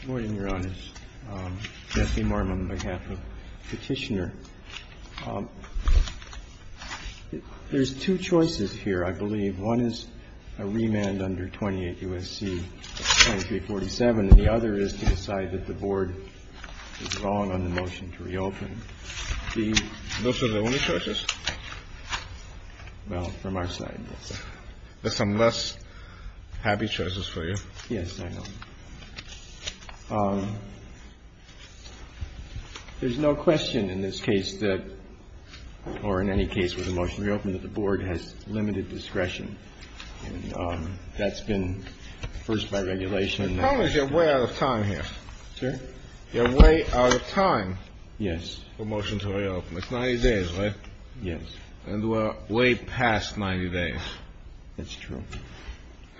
Good morning, Your Honors. Jesse Mormon on behalf of Petitioner. There's two choices here, I believe. One is a remand under 28 U.S.C. 2347, and the other is to decide that the Board is wrong on the motion to reopen. Those are the only choices? Well, from our side, yes. There's some less happy choices for you. Yes, I know. There's no question in this case that, or in any case with a motion to reopen, that the Board has limited discretion. And that's been first by regulation. The problem is you're way out of time here. Sir? You're way out of time. Yes. For a motion to reopen. It's 90 days, right? Yes. And we're way past 90 days. That's true.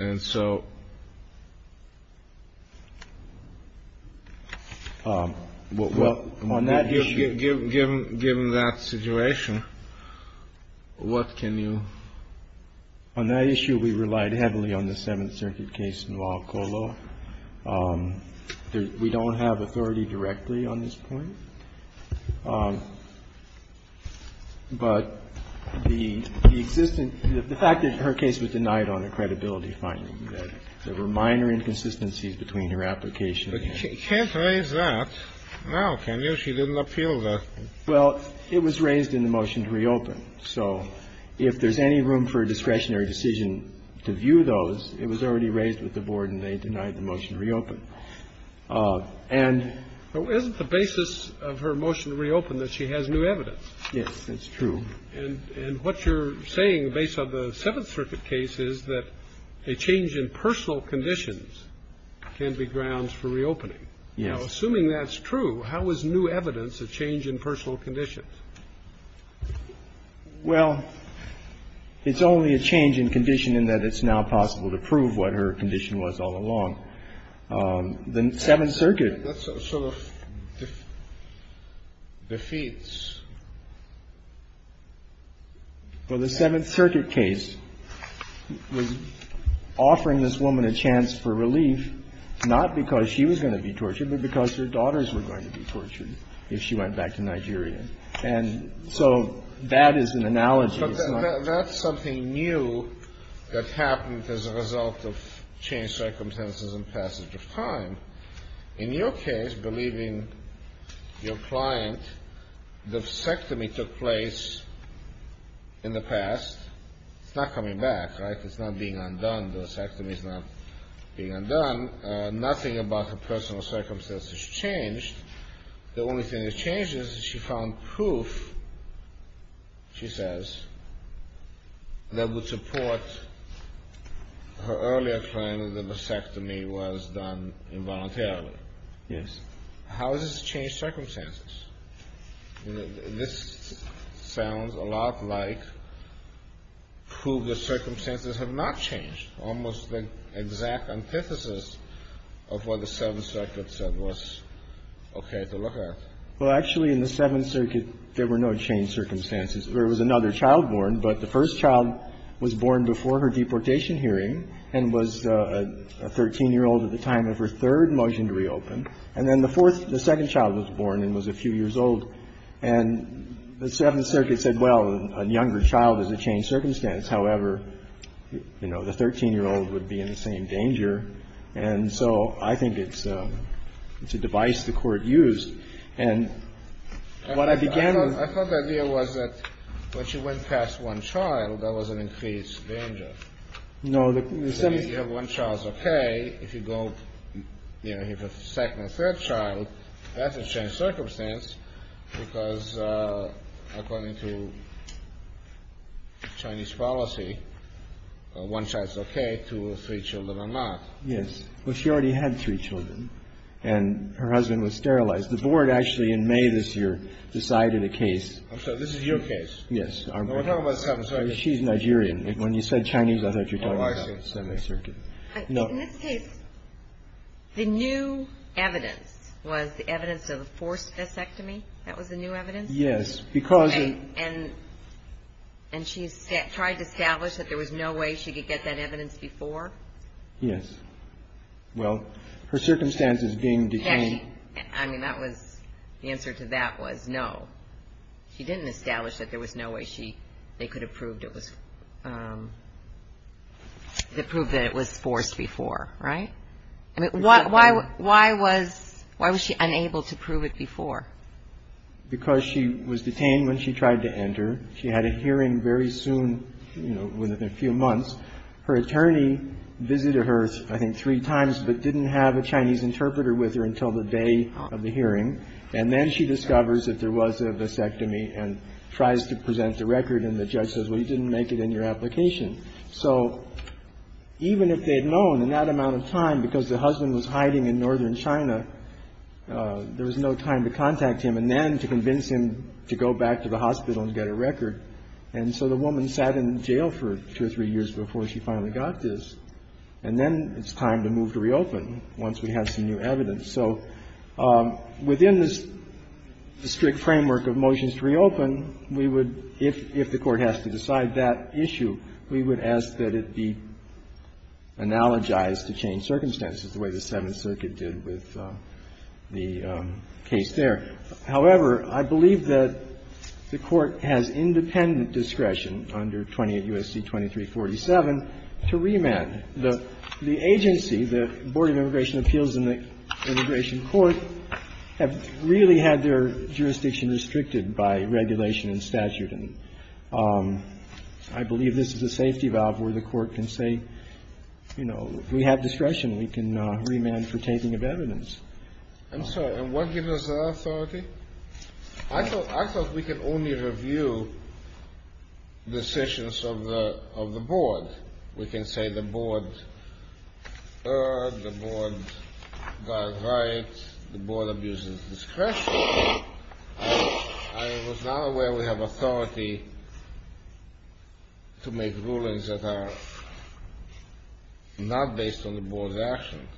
And so on that issue. Given that situation, what can you? On that issue, we relied heavily on the Seventh Circuit case in Waukolo. We don't have authority directly on this point. But the existence, the fact that her case was denied on a credibility finding, that there were minor inconsistencies between her application and the case. But you can't raise that now, can you? She didn't appeal the. Well, it was raised in the motion to reopen. So if there's any room for a discretionary decision to view those, it was already raised with the Board, and they denied the motion to reopen. And. Isn't the basis of her motion to reopen that she has new evidence? Yes, that's true. And what you're saying based on the Seventh Circuit case is that a change in personal conditions can be grounds for reopening. Yes. Now, assuming that's true, how is new evidence a change in personal conditions? Well, it's only a change in condition in that it's now possible to prove what her condition was all along. The Seventh Circuit. That sort of defeats. Well, the Seventh Circuit case was offering this woman a chance for relief, not because she was going to be tortured, but because her daughters were going to be tortured if she went back to Nigeria. And so that is an analogy. But that's something new that happened as a result of changed circumstances and passage of time. In your case, believing your client, the vasectomy took place in the past. It's not coming back, right? It's not being undone. The vasectomy is not being undone. Nothing about her personal circumstances changed. The only thing that changes is she found proof, she says, that would support her earlier claim that the vasectomy was done involuntarily. Yes. How does this change circumstances? This sounds a lot like proof that circumstances have not changed, almost the exact antithesis of what the Seventh Circuit said was okay to look at. Well, actually, in the Seventh Circuit, there were no changed circumstances. There was another child born, but the first child was born before her deportation hearing and was a 13-year-old at the time of her third motion to reopen. And then the fourth, the second child was born and was a few years old. And the Seventh Circuit said, well, a younger child is a changed circumstance. However, you know, the 13-year-old would be in the same danger. And so I think it's a device the court used. And what I began with. I thought the idea was that when she went past one child, there was an increased danger. No. If you have one child, it's okay. If you go, you know, you have a second or third child, that's a changed circumstance because according to Chinese policy, one child is okay, two or three children are not. Yes. Well, she already had three children, and her husband was sterilized. The board actually in May this year decided a case. I'm sorry. This is your case. Yes. We're talking about the Seventh Circuit. She's Nigerian. When you said Chinese, I thought you were talking about the Seventh Circuit. Oh, I see. No. In this case, the new evidence was the evidence of a forced vasectomy. That was the new evidence? Yes. And she tried to establish that there was no way she could get that evidence before? Yes. Well, her circumstance is being detained. I mean, the answer to that was no. She didn't establish that there was no way they could have proved that it was forced before, right? I mean, why was she unable to prove it before? Because she was detained when she tried to enter. She had a hearing very soon, you know, within a few months. Her attorney visited her, I think, three times, but didn't have a Chinese interpreter with her until the day of the hearing. And then she discovers that there was a vasectomy and tries to present the record. And the judge says, well, you didn't make it in your application. So even if they had known, in that amount of time, because the husband was hiding in northern China, there was no time to contact him and then to convince him to go back to the hospital and get a record. And so the woman sat in jail for two or three years before she finally got this. And then it's time to move to reopen once we have some new evidence. So within this strict framework of motions to reopen, we would, if the Court has to decide that issue, we would ask that it be analogized to change circumstances the way the Seventh Circuit did with the case there. However, I believe that the Court has independent discretion under 28 U.S.C. 2347 to remand. The agency, the Board of Immigration Appeals and the Immigration Court, have really had their jurisdiction restricted by regulation and statute. And I believe this is a safety valve where the Court can say, you know, we have discretion. We can remand for taking of evidence. I'm sorry. And what gives us the authority? I thought we could only review decisions of the Board. We can say the Board erred, the Board got it right, the Board abuses discretion. I was not aware we have authority to make rulings that are not based on the Board's actions.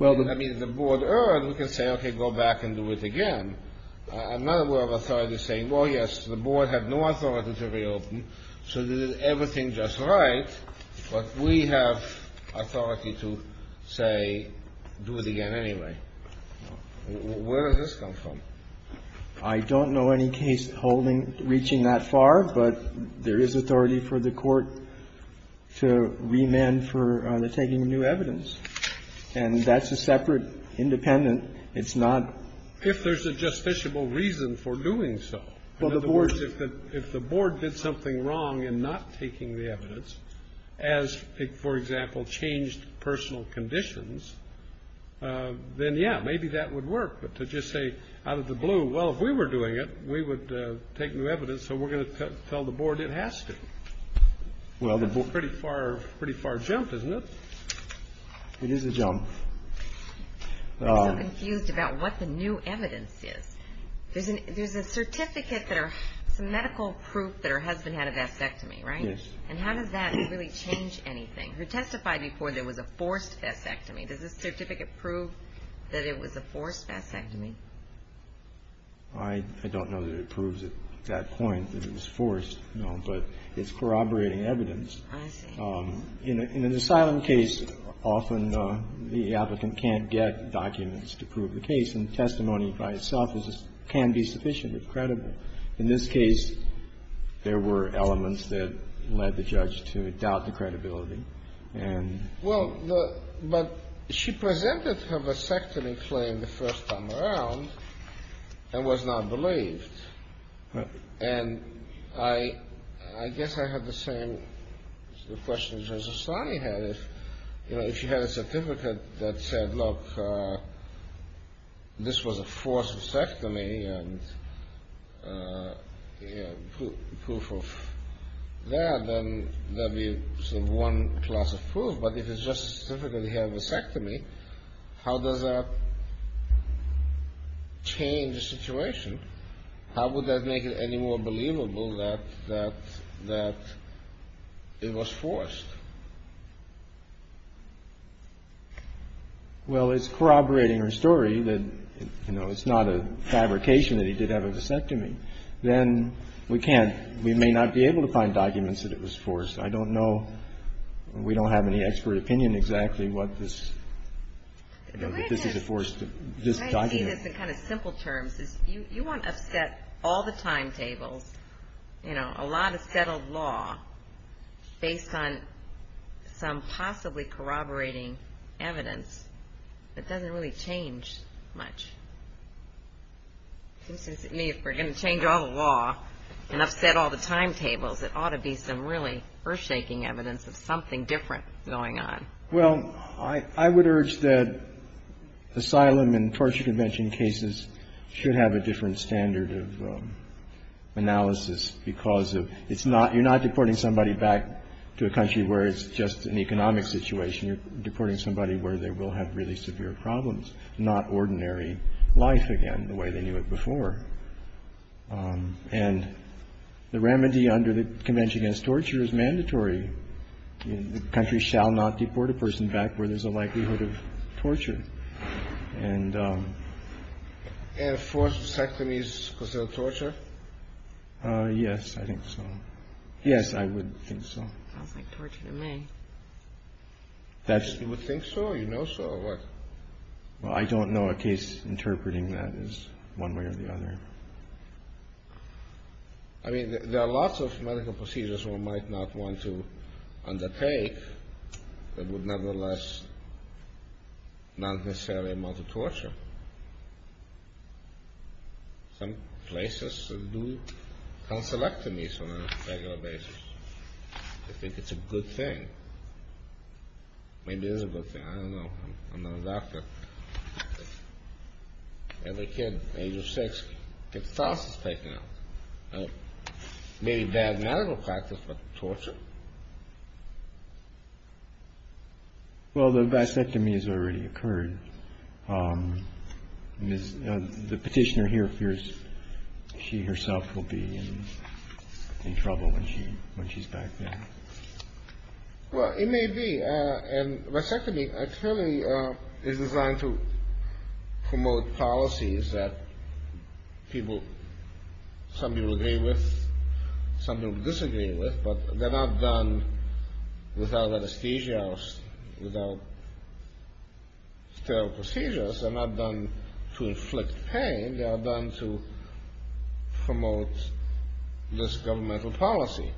I mean, if the Board erred, we can say, okay, go back and do it again. I'm not aware of authority saying, well, yes, the Board had no authority to reopen, so did everything just right. But we have authority to say, do it again anyway. Where does this come from? I don't know any case holding, reaching that far, but there is authority for the Court to remand for taking new evidence. And that's a separate independent. It's not. If there's a justiciable reason for doing so. Well, the Board's. If the Board did something wrong in not taking the evidence, as, for example, changed personal conditions, then, yeah, maybe that would work. But to just say out of the blue, well, if we were doing it, we would take new evidence, so we're going to tell the Board it has to. That's a pretty far jump, isn't it? It is a jump. I'm so confused about what the new evidence is. There's a certificate that or some medical proof that her husband had a vasectomy, right? Yes. And how does that really change anything? Her testifying before there was a forced vasectomy. Does this certificate prove that it was a forced vasectomy? I don't know that it proves at that point that it was forced, no, but it's corroborating evidence. I see. In an asylum case, often the applicant can't get documents to prove the case, and testimony by itself can be sufficiently credible. In this case, there were elements that led the judge to doubt the credibility. Well, but she presented her vasectomy claim the first time around and was not believed. And I guess I have the same question that Justice Sotomayor had. If you had a certificate that said, look, this was a forced vasectomy and proof of that, then that would be sort of one class of proof. But if it's just a certificate that he had a vasectomy, how does that change the situation? How would that make it any more believable that it was forced? Well, it's corroborating her story that, you know, it's not a fabrication that he did have a vasectomy. Then we can't – we may not be able to find documents that it was forced. I don't know – we don't have any expert opinion exactly what this – that this is a forced – this document. The point is, in kind of simple terms, is you want to set all the timetables, you know, a lot of settled law based on some possibly corroborating evidence that doesn't really change much. It seems to me if we're going to change all the law and upset all the timetables, it ought to be some really earth-shaking evidence of something different going on. Well, I would urge that asylum and torture convention cases should have a different standard of analysis because of – it's not – you're not deporting somebody back to a country where it's just an economic situation. You're deporting somebody where they will have really severe problems, not ordinary life again the way they knew it before. And the remedy under the Convention Against Torture is mandatory. The country shall not deport a person back where there's a likelihood of torture. And – And forced sectomies considered torture? Yes, I think so. Yes, I would think so. Sounds like torture to me. That's – You would think so? You know so? Or what? Well, I don't know a case interpreting that as one way or the other. I mean, there are lots of medical procedures one might not want to undertake that would nevertheless not necessarily amount to torture. Some places do conselectomies on a regular basis. I think it's a good thing. Maybe it is a good thing. I don't know. I'm not a doctor. Well, the vasectomy has already occurred. The petitioner here fears she herself will be in trouble when she's back there. Well, it may be. And vasectomy, clearly, is the same thing. I'm trying to promote policies that people – some people agree with, some people disagree with, but they're not done without anesthesia or without sterile procedures. They're not done to inflict pain. They are done to promote this governmental policy.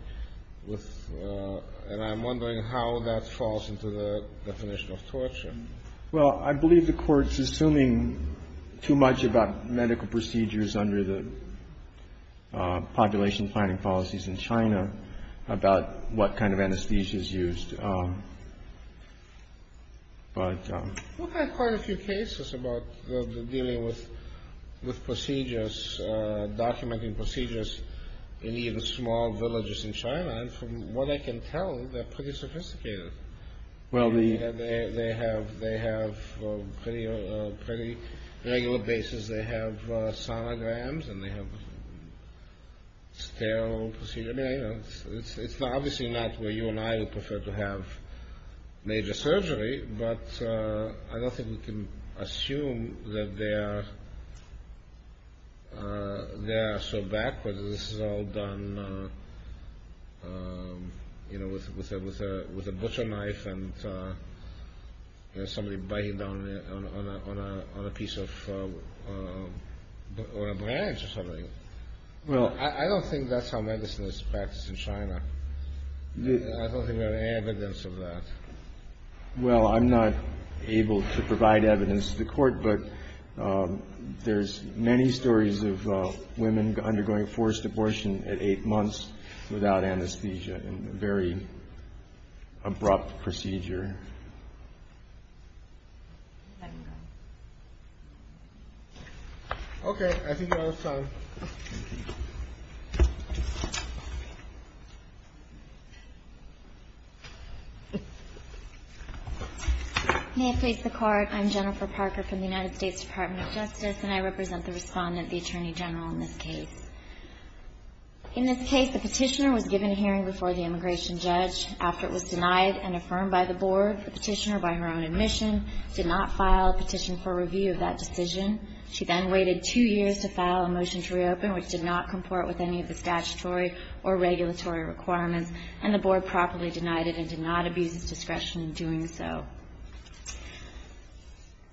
And I'm wondering how that falls into the definition of torture. Well, I believe the Court's assuming too much about medical procedures under the population planning policies in China about what kind of anesthesia is used. We've had quite a few cases about dealing with procedures, documenting procedures in even small villages in China. And from what I can tell, they're pretty sophisticated. Well, the – They have pretty regular bases. They have sonograms and they have sterile procedures. It's obviously not where you and I would prefer to have major surgery, but I don't think we can assume that they are so backward. This is all done, you know, with a butcher knife and somebody biting down on a piece of – on a branch or something. I don't think that's how medicine is practiced in China. I don't think we have evidence of that. Well, I'm not able to provide evidence to the Court, but there's many stories of women undergoing forced abortion at 8 months without anesthesia, a very abrupt procedure. Okay. I think that was time. Thank you. May it please the Court. I'm Jennifer Parker from the United States Department of Justice, and I represent the Respondent, the Attorney General, in this case. In this case, the petitioner was given a hearing before the immigration judge. After it was denied and affirmed by the Board, the petitioner, by her own admission, did not file a petition for review of that decision. She then waited two years to file a motion to reopen, which did not comport with any of the statutory or regulatory requirements, and the Board properly denied it and did not abuse its discretion in doing so.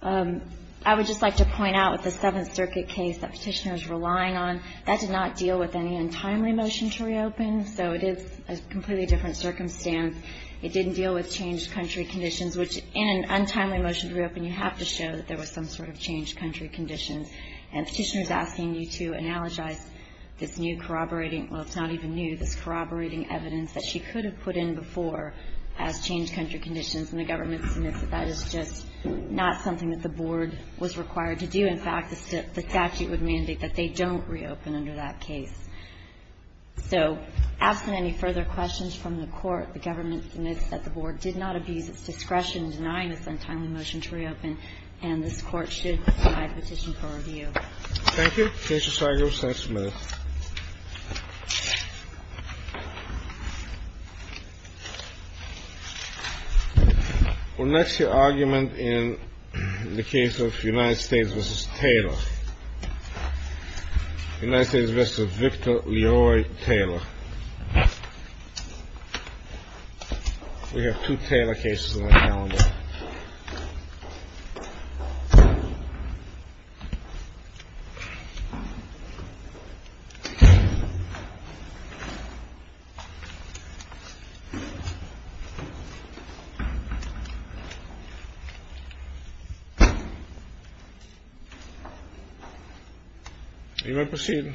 I would just like to point out with the Seventh Circuit case that petitioner is relying on, that did not deal with any untimely motion to reopen, so it is a completely different circumstance. It didn't deal with changed country conditions, which in an untimely motion to reopen, you have to show that there was some sort of changed country condition. And the petitioner is asking you to analogize this new corroborating, well, it's not even new, this corroborating evidence that she could have put in before as changed country conditions, and the government submits that that is just not something that the Board was required to do. In fact, the statute would mandate that they don't reopen under that case. So, absent any further questions from the Court, the government admits that the Board did not abuse its discretion in denying this untimely motion to reopen, and this Court should provide a petition for review. Thank you. Mr. Seigel, thanks a million. Well, next, your argument in the case of United States v. Taylor. United States v. Victor Leroy Taylor. We have two Taylor cases on our calendar. You may proceed.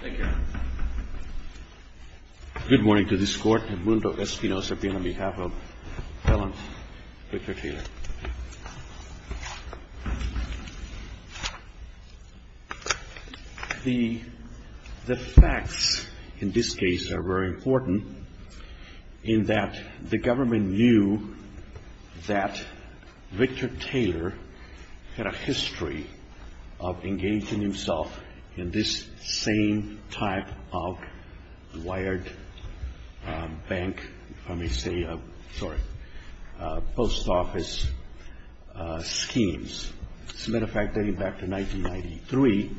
Thank you. Good morning to this Court. Mundo Espinosa here on behalf of felon Victor Taylor. The facts in this case are very important in that the government knew that Victor Taylor had a history of engaging himself in this same type of wired bank, if I may say, sorry, post office schemes. As a matter of fact, dating back to 1993,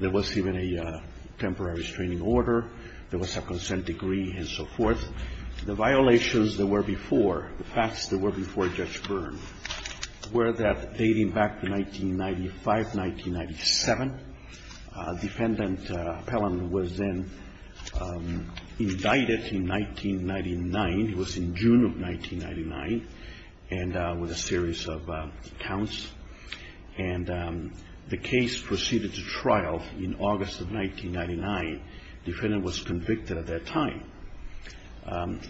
there was even a temporary restraining order. There was a consent decree and so forth. The violations that were before, the facts that were before Judge Byrne, were that dating back to 1995, 1997, defendant Pelham was then indicted in 1999. It was in June of 1999, and with a series of counts. And the case proceeded to trial in August of 1999. Defendant was convicted at that time.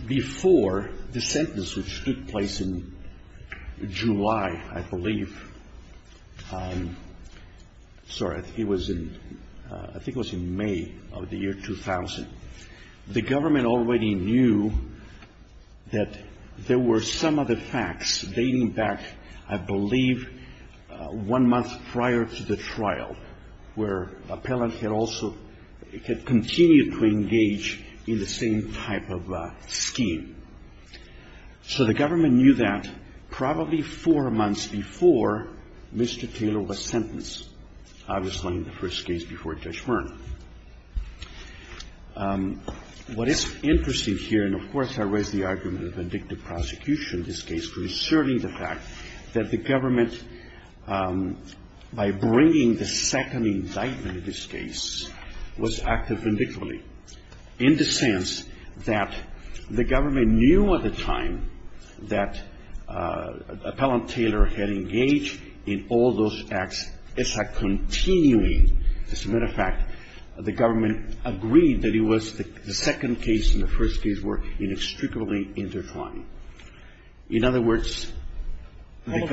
Before the sentence, which took place in July, I believe, sorry, I think it was in May of the year 2000. The government already knew that there were some of the facts dating back, I believe, one month prior to the trial, where Pelham had also, had continued to engage in the same type of scheme. So the government knew that probably four months before Mr. Taylor was sentenced, obviously in the first case before Judge Byrne. What is interesting here, and of course I raise the argument of indicative prosecution in this case, concerning the fact that the government, by bringing the second indictment in this case, was active vindictively. In the sense that the government knew at the time that Appellant Taylor had engaged in all those acts, as a continuing, as a matter of fact, the government agreed that it was the second case and the first case were inextricably intertwined. In other words, because- Well, it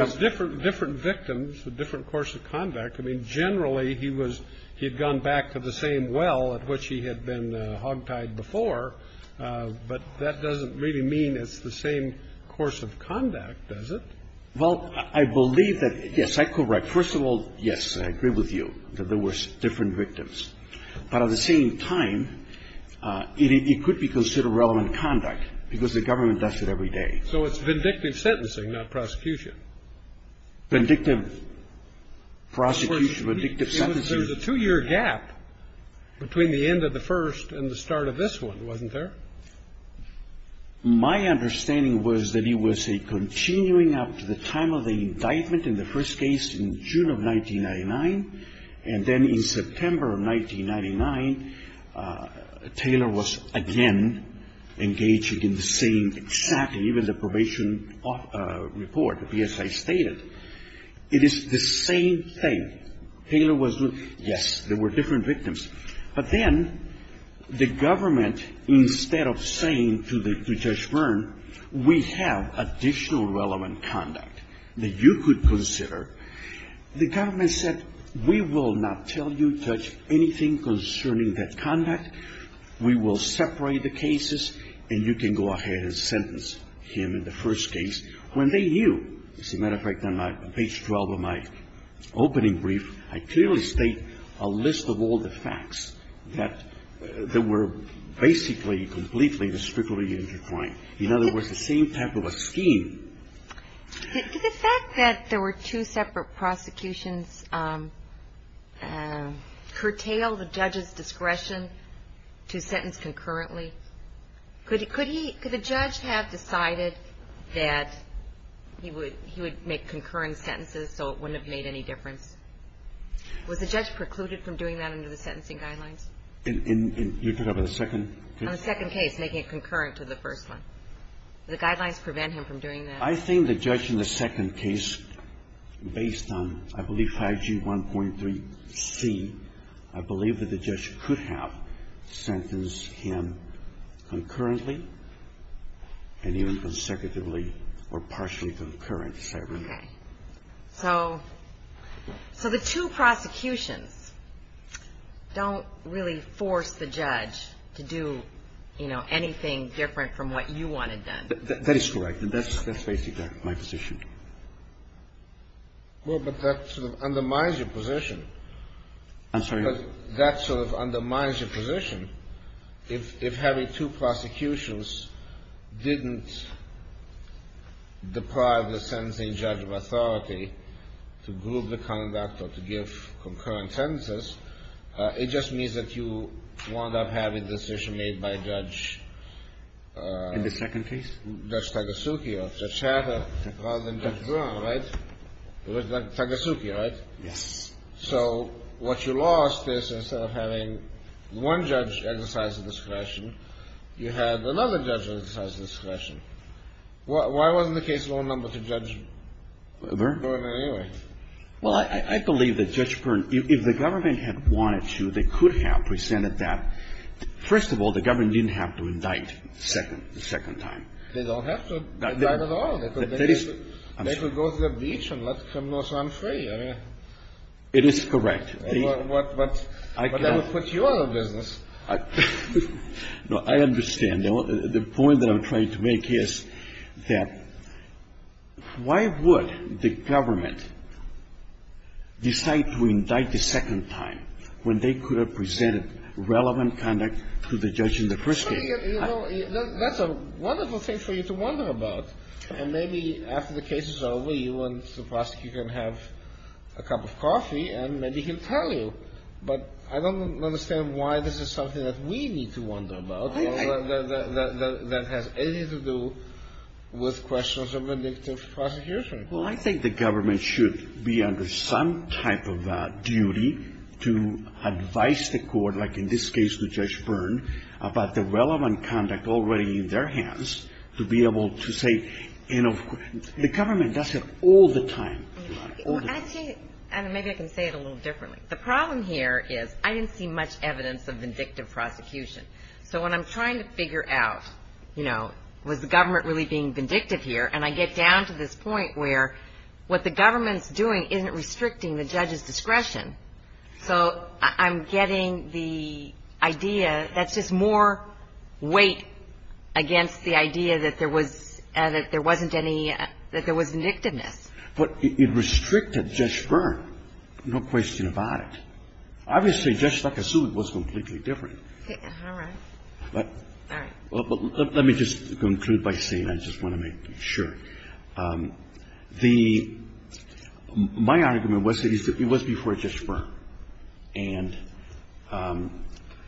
was different victims, a different course of conduct. I mean, generally he was, he had gone back to the same well at which he had been hogtied before, but that doesn't really mean it's the same course of conduct, does it? Well, I believe that, yes, I correct. First of all, yes, I agree with you that there were different victims. But at the same time, it could be considered relevant conduct, because the government does it every day. So it's vindictive sentencing, not prosecution. Vindictive prosecution, vindictive sentencing. There was a two-year gap between the end of the first and the start of this one, wasn't there? My understanding was that it was a continuing up to the time of the indictment in the first case in June of 1999, and then in September of 1999, Taylor was again engaged in the same, exactly, even the probation report, the PSI stated, it is the same thing. Taylor was, yes, there were different victims. But then the government, instead of saying to Judge Byrne, we have additional relevant conduct that you could consider, the government said, we will not tell you, Judge, anything concerning that conduct. We will separate the cases, and you can go ahead and sentence him in the first case. When they knew, as a matter of fact, on page 12 of my opening brief, I clearly state a list of all the facts that were basically completely and strictly intertwined. In other words, the same type of a scheme. Did the fact that there were two separate prosecutions curtail the judge's discretion to sentence concurrently? Could he – could the judge have decided that he would make concurrent sentences so it wouldn't have made any difference? Was the judge precluded from doing that under the sentencing guidelines? You're talking about the second case? On the second case, making it concurrent to the first one. The guidelines prevent him from doing that? I think the judge in the second case, based on, I believe, 5G1.3c, I believe that the judge could have sentenced him concurrently and even consecutively or partially concurrent, if I remember. Okay. So the two prosecutions don't really force the judge to do, you know, anything different from what you wanted done? That is correct. That's basically my position. Well, but that sort of undermines your position. I'm sorry? That sort of undermines your position. If having two prosecutions didn't deprive the sentencing judge of authority to group the conduct or to give concurrent sentences, it just means that you wound up having a decision made by Judge — In the second case? Judge Tagasucki or Judge Hatter rather than Judge Byrne, right? Tagasucki, right? Yes. So what you lost is instead of having one judge exercise discretion, you had another judge exercise discretion. Why wasn't the case lower number to Judge Byrne anyway? Well, I believe that Judge Byrne, if the government had wanted to, they could have presented that. First of all, the government didn't have to indict the second time. They don't have to indict at all. They could go to the beach and let criminals run free. It is correct. But that would put you out of business. No, I understand. The point that I'm trying to make is that why would the government decide to indict the second time when they could have presented relevant conduct to the judge in the first case? That's a wonderful thing for you to wonder about. And maybe after the cases are over, you went to the prosecutor and have a cup of coffee, and maybe he'll tell you. But I don't understand why this is something that we need to wonder about that has anything to do with questions of indicative prosecution. Well, I think the government should be under some type of duty to advise the court, like in this case with Judge Byrne, about the relevant conduct already in their hands to be able to say, you know, the government does it all the time. Actually, maybe I can say it a little differently. The problem here is I didn't see much evidence of vindictive prosecution. So when I'm trying to figure out, you know, was the government really being vindictive here, and I get down to this point where what the government's doing isn't restricting the judge's discretion. So I'm getting the idea that's just more weight against the idea that there was – that there wasn't any – that there was vindictiveness. But it restricted Judge Byrne, no question about it. Obviously, Judge Nakasu was completely different. All right. All right. Let me just conclude by saying I just want to make sure. The – my argument was that it was before Judge Byrne. And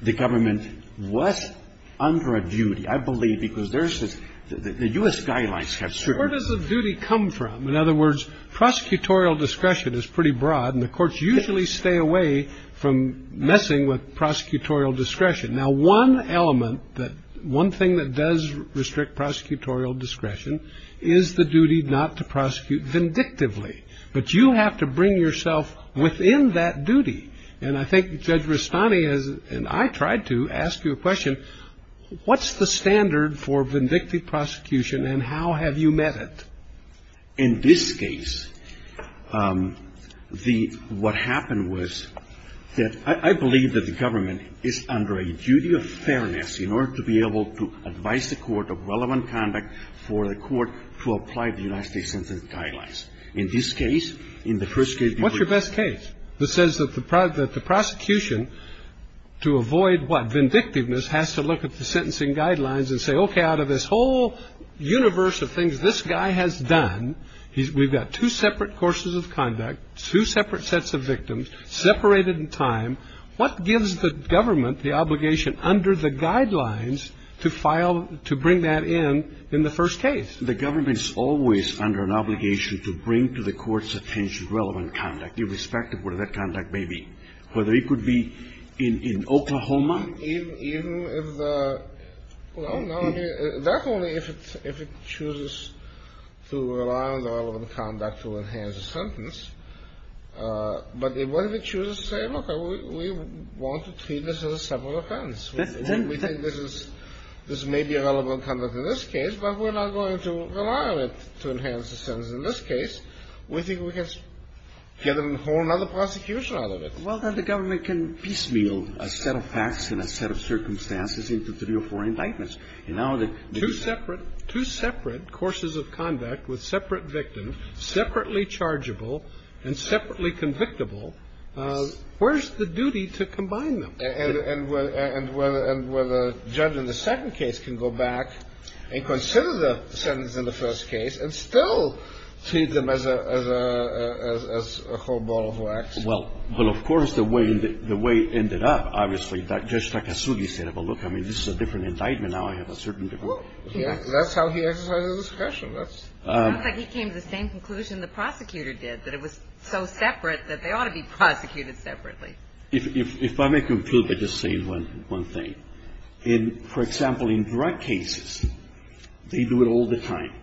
the government was under a duty, I believe, because there's this – the U.S. guidelines have certain – where does the duty come from? In other words, prosecutorial discretion is pretty broad, and the courts usually stay away from messing with prosecutorial discretion. Now, one element that – one thing that does restrict prosecutorial discretion is the duty not to prosecute vindictively. But you have to bring yourself within that duty. And I think Judge Rustani has – and I tried to – ask you a question. What's the standard for vindictive prosecution, and how have you met it? In this case, the – what happened was that I believe that the government is under a duty of fairness in order to be able to advise the court of relevant conduct for the court to apply the United States Sentence Guidelines. In this case, in the first case – What's your best case? It says that the prosecution, to avoid what? Vindictiveness, has to look at the sentencing guidelines and say, okay, out of this whole universe of things this guy has done, we've got two separate courses of conduct, two separate sets of victims, separated in time. What gives the government the obligation under the guidelines to file – to bring that in in the first case? The government is always under an obligation to bring to the court's attention relevant conduct, irrespective of what that conduct may be. Whether it could be in Oklahoma. Even if the – well, no. That's only if it chooses to rely on the relevant conduct to enhance a sentence. But what if it chooses to say, look, we want to treat this as a separate offense? We think this is – this may be relevant conduct in this case, but we're not going to rely on it to enhance the sentence in this case. We think we can get a whole other prosecution out of it. Well, then the government can piecemeal a set of facts and a set of circumstances into three or four indictments. And now that – Two separate – two separate courses of conduct with separate victims, separately chargeable and separately convictable, where's the duty to combine them? And where the judge in the second case can go back and consider the sentence in the first case and still treat them as a whole ball of wax. Well, of course, the way it ended up, obviously, that Judge Takasugi said, well, look, I mean, this is a different indictment. Now I have a certain – That's how he exercised his discretion. It sounds like he came to the same conclusion the prosecutor did, that it was so separate that they ought to be prosecuted separately. If I may conclude by just saying one thing. For example, in drug cases, they do it all the time.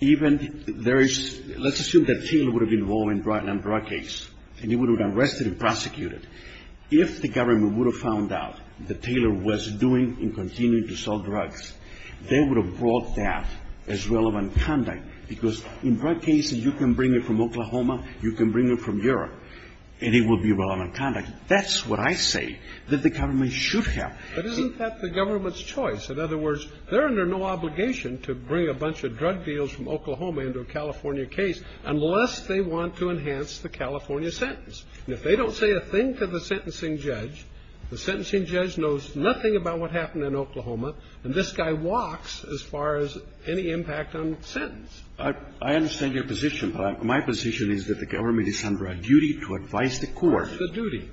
Even there is – let's assume that Taylor would have been involved in a drug case and he would have been arrested and prosecuted. If the government would have found out that Taylor was doing and continuing to sell drugs, they would have brought that as relevant conduct, because in drug cases you can bring it from Oklahoma, you can bring it from Europe, and it will be relevant conduct. That's what I say that the government should have. But isn't that the government's choice? In other words, they're under no obligation to bring a bunch of drug deals from Oklahoma into a California case unless they want to enhance the California sentence. And if they don't say a thing to the sentencing judge, the sentencing judge knows nothing about what happened in Oklahoma, and this guy walks as far as any impact on the sentence. I understand your position, but my position is that the government is under a duty to advise the court. The duty.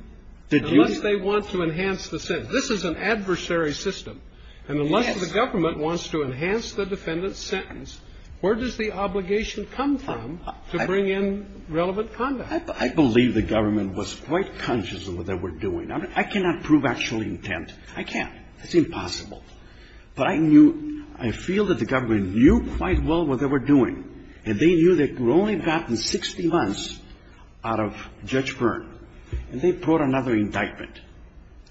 Unless they want to enhance the sentence. This is an adversary system. Yes. And unless the government wants to enhance the defendant's sentence, where does the obligation come from to bring in relevant conduct? I believe the government was quite conscious of what they were doing. I cannot prove actual intent. I can't. It's impossible. But I knew – I feel that the government knew quite well what they were doing, and they knew they had only gotten 60 months out of Judge Byrne, and they brought another indictment.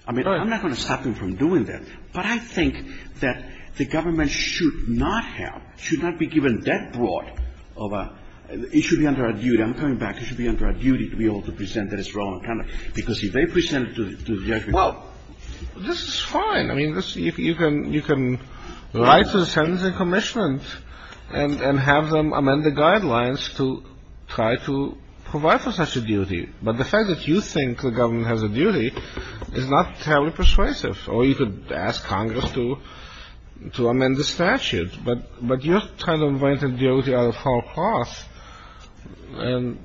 I mean, I'm not going to stop them from doing that, but I think that the government should not have – should not be given that broad of a – it should be under a duty. I'm coming back. It should be under a duty to be able to present that it's relevant conduct, because if they present it to the judge... Well, this is fine. I mean, you can write to the sentencing commission and have them amend the guidelines to try to provide for such a duty. But the fact that you think the government has a duty is not terribly persuasive. Or you could ask Congress to amend the statute. But you're trying to invent a duty at a far cross, and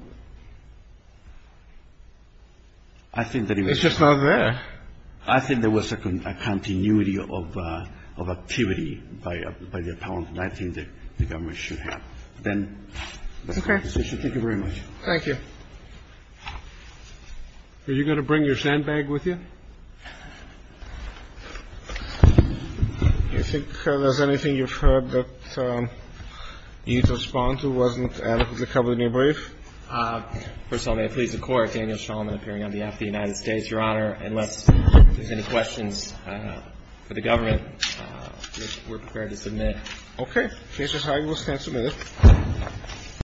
it's just not there. I think there was a continuity of activity by the appellant, and I think that the government should have. But then... Okay. Thank you very much. Thank you. Are you going to bring your sandbag with you? Do you think there's anything you've heard that you need to respond to? Wasn't adequately covered in your brief? First of all, may I please record Daniel Shulman appearing on behalf of the United States, Your Honor, unless there's any questions for the government, we're prepared to submit. Okay. Judge O'Hara, you will stand submitted.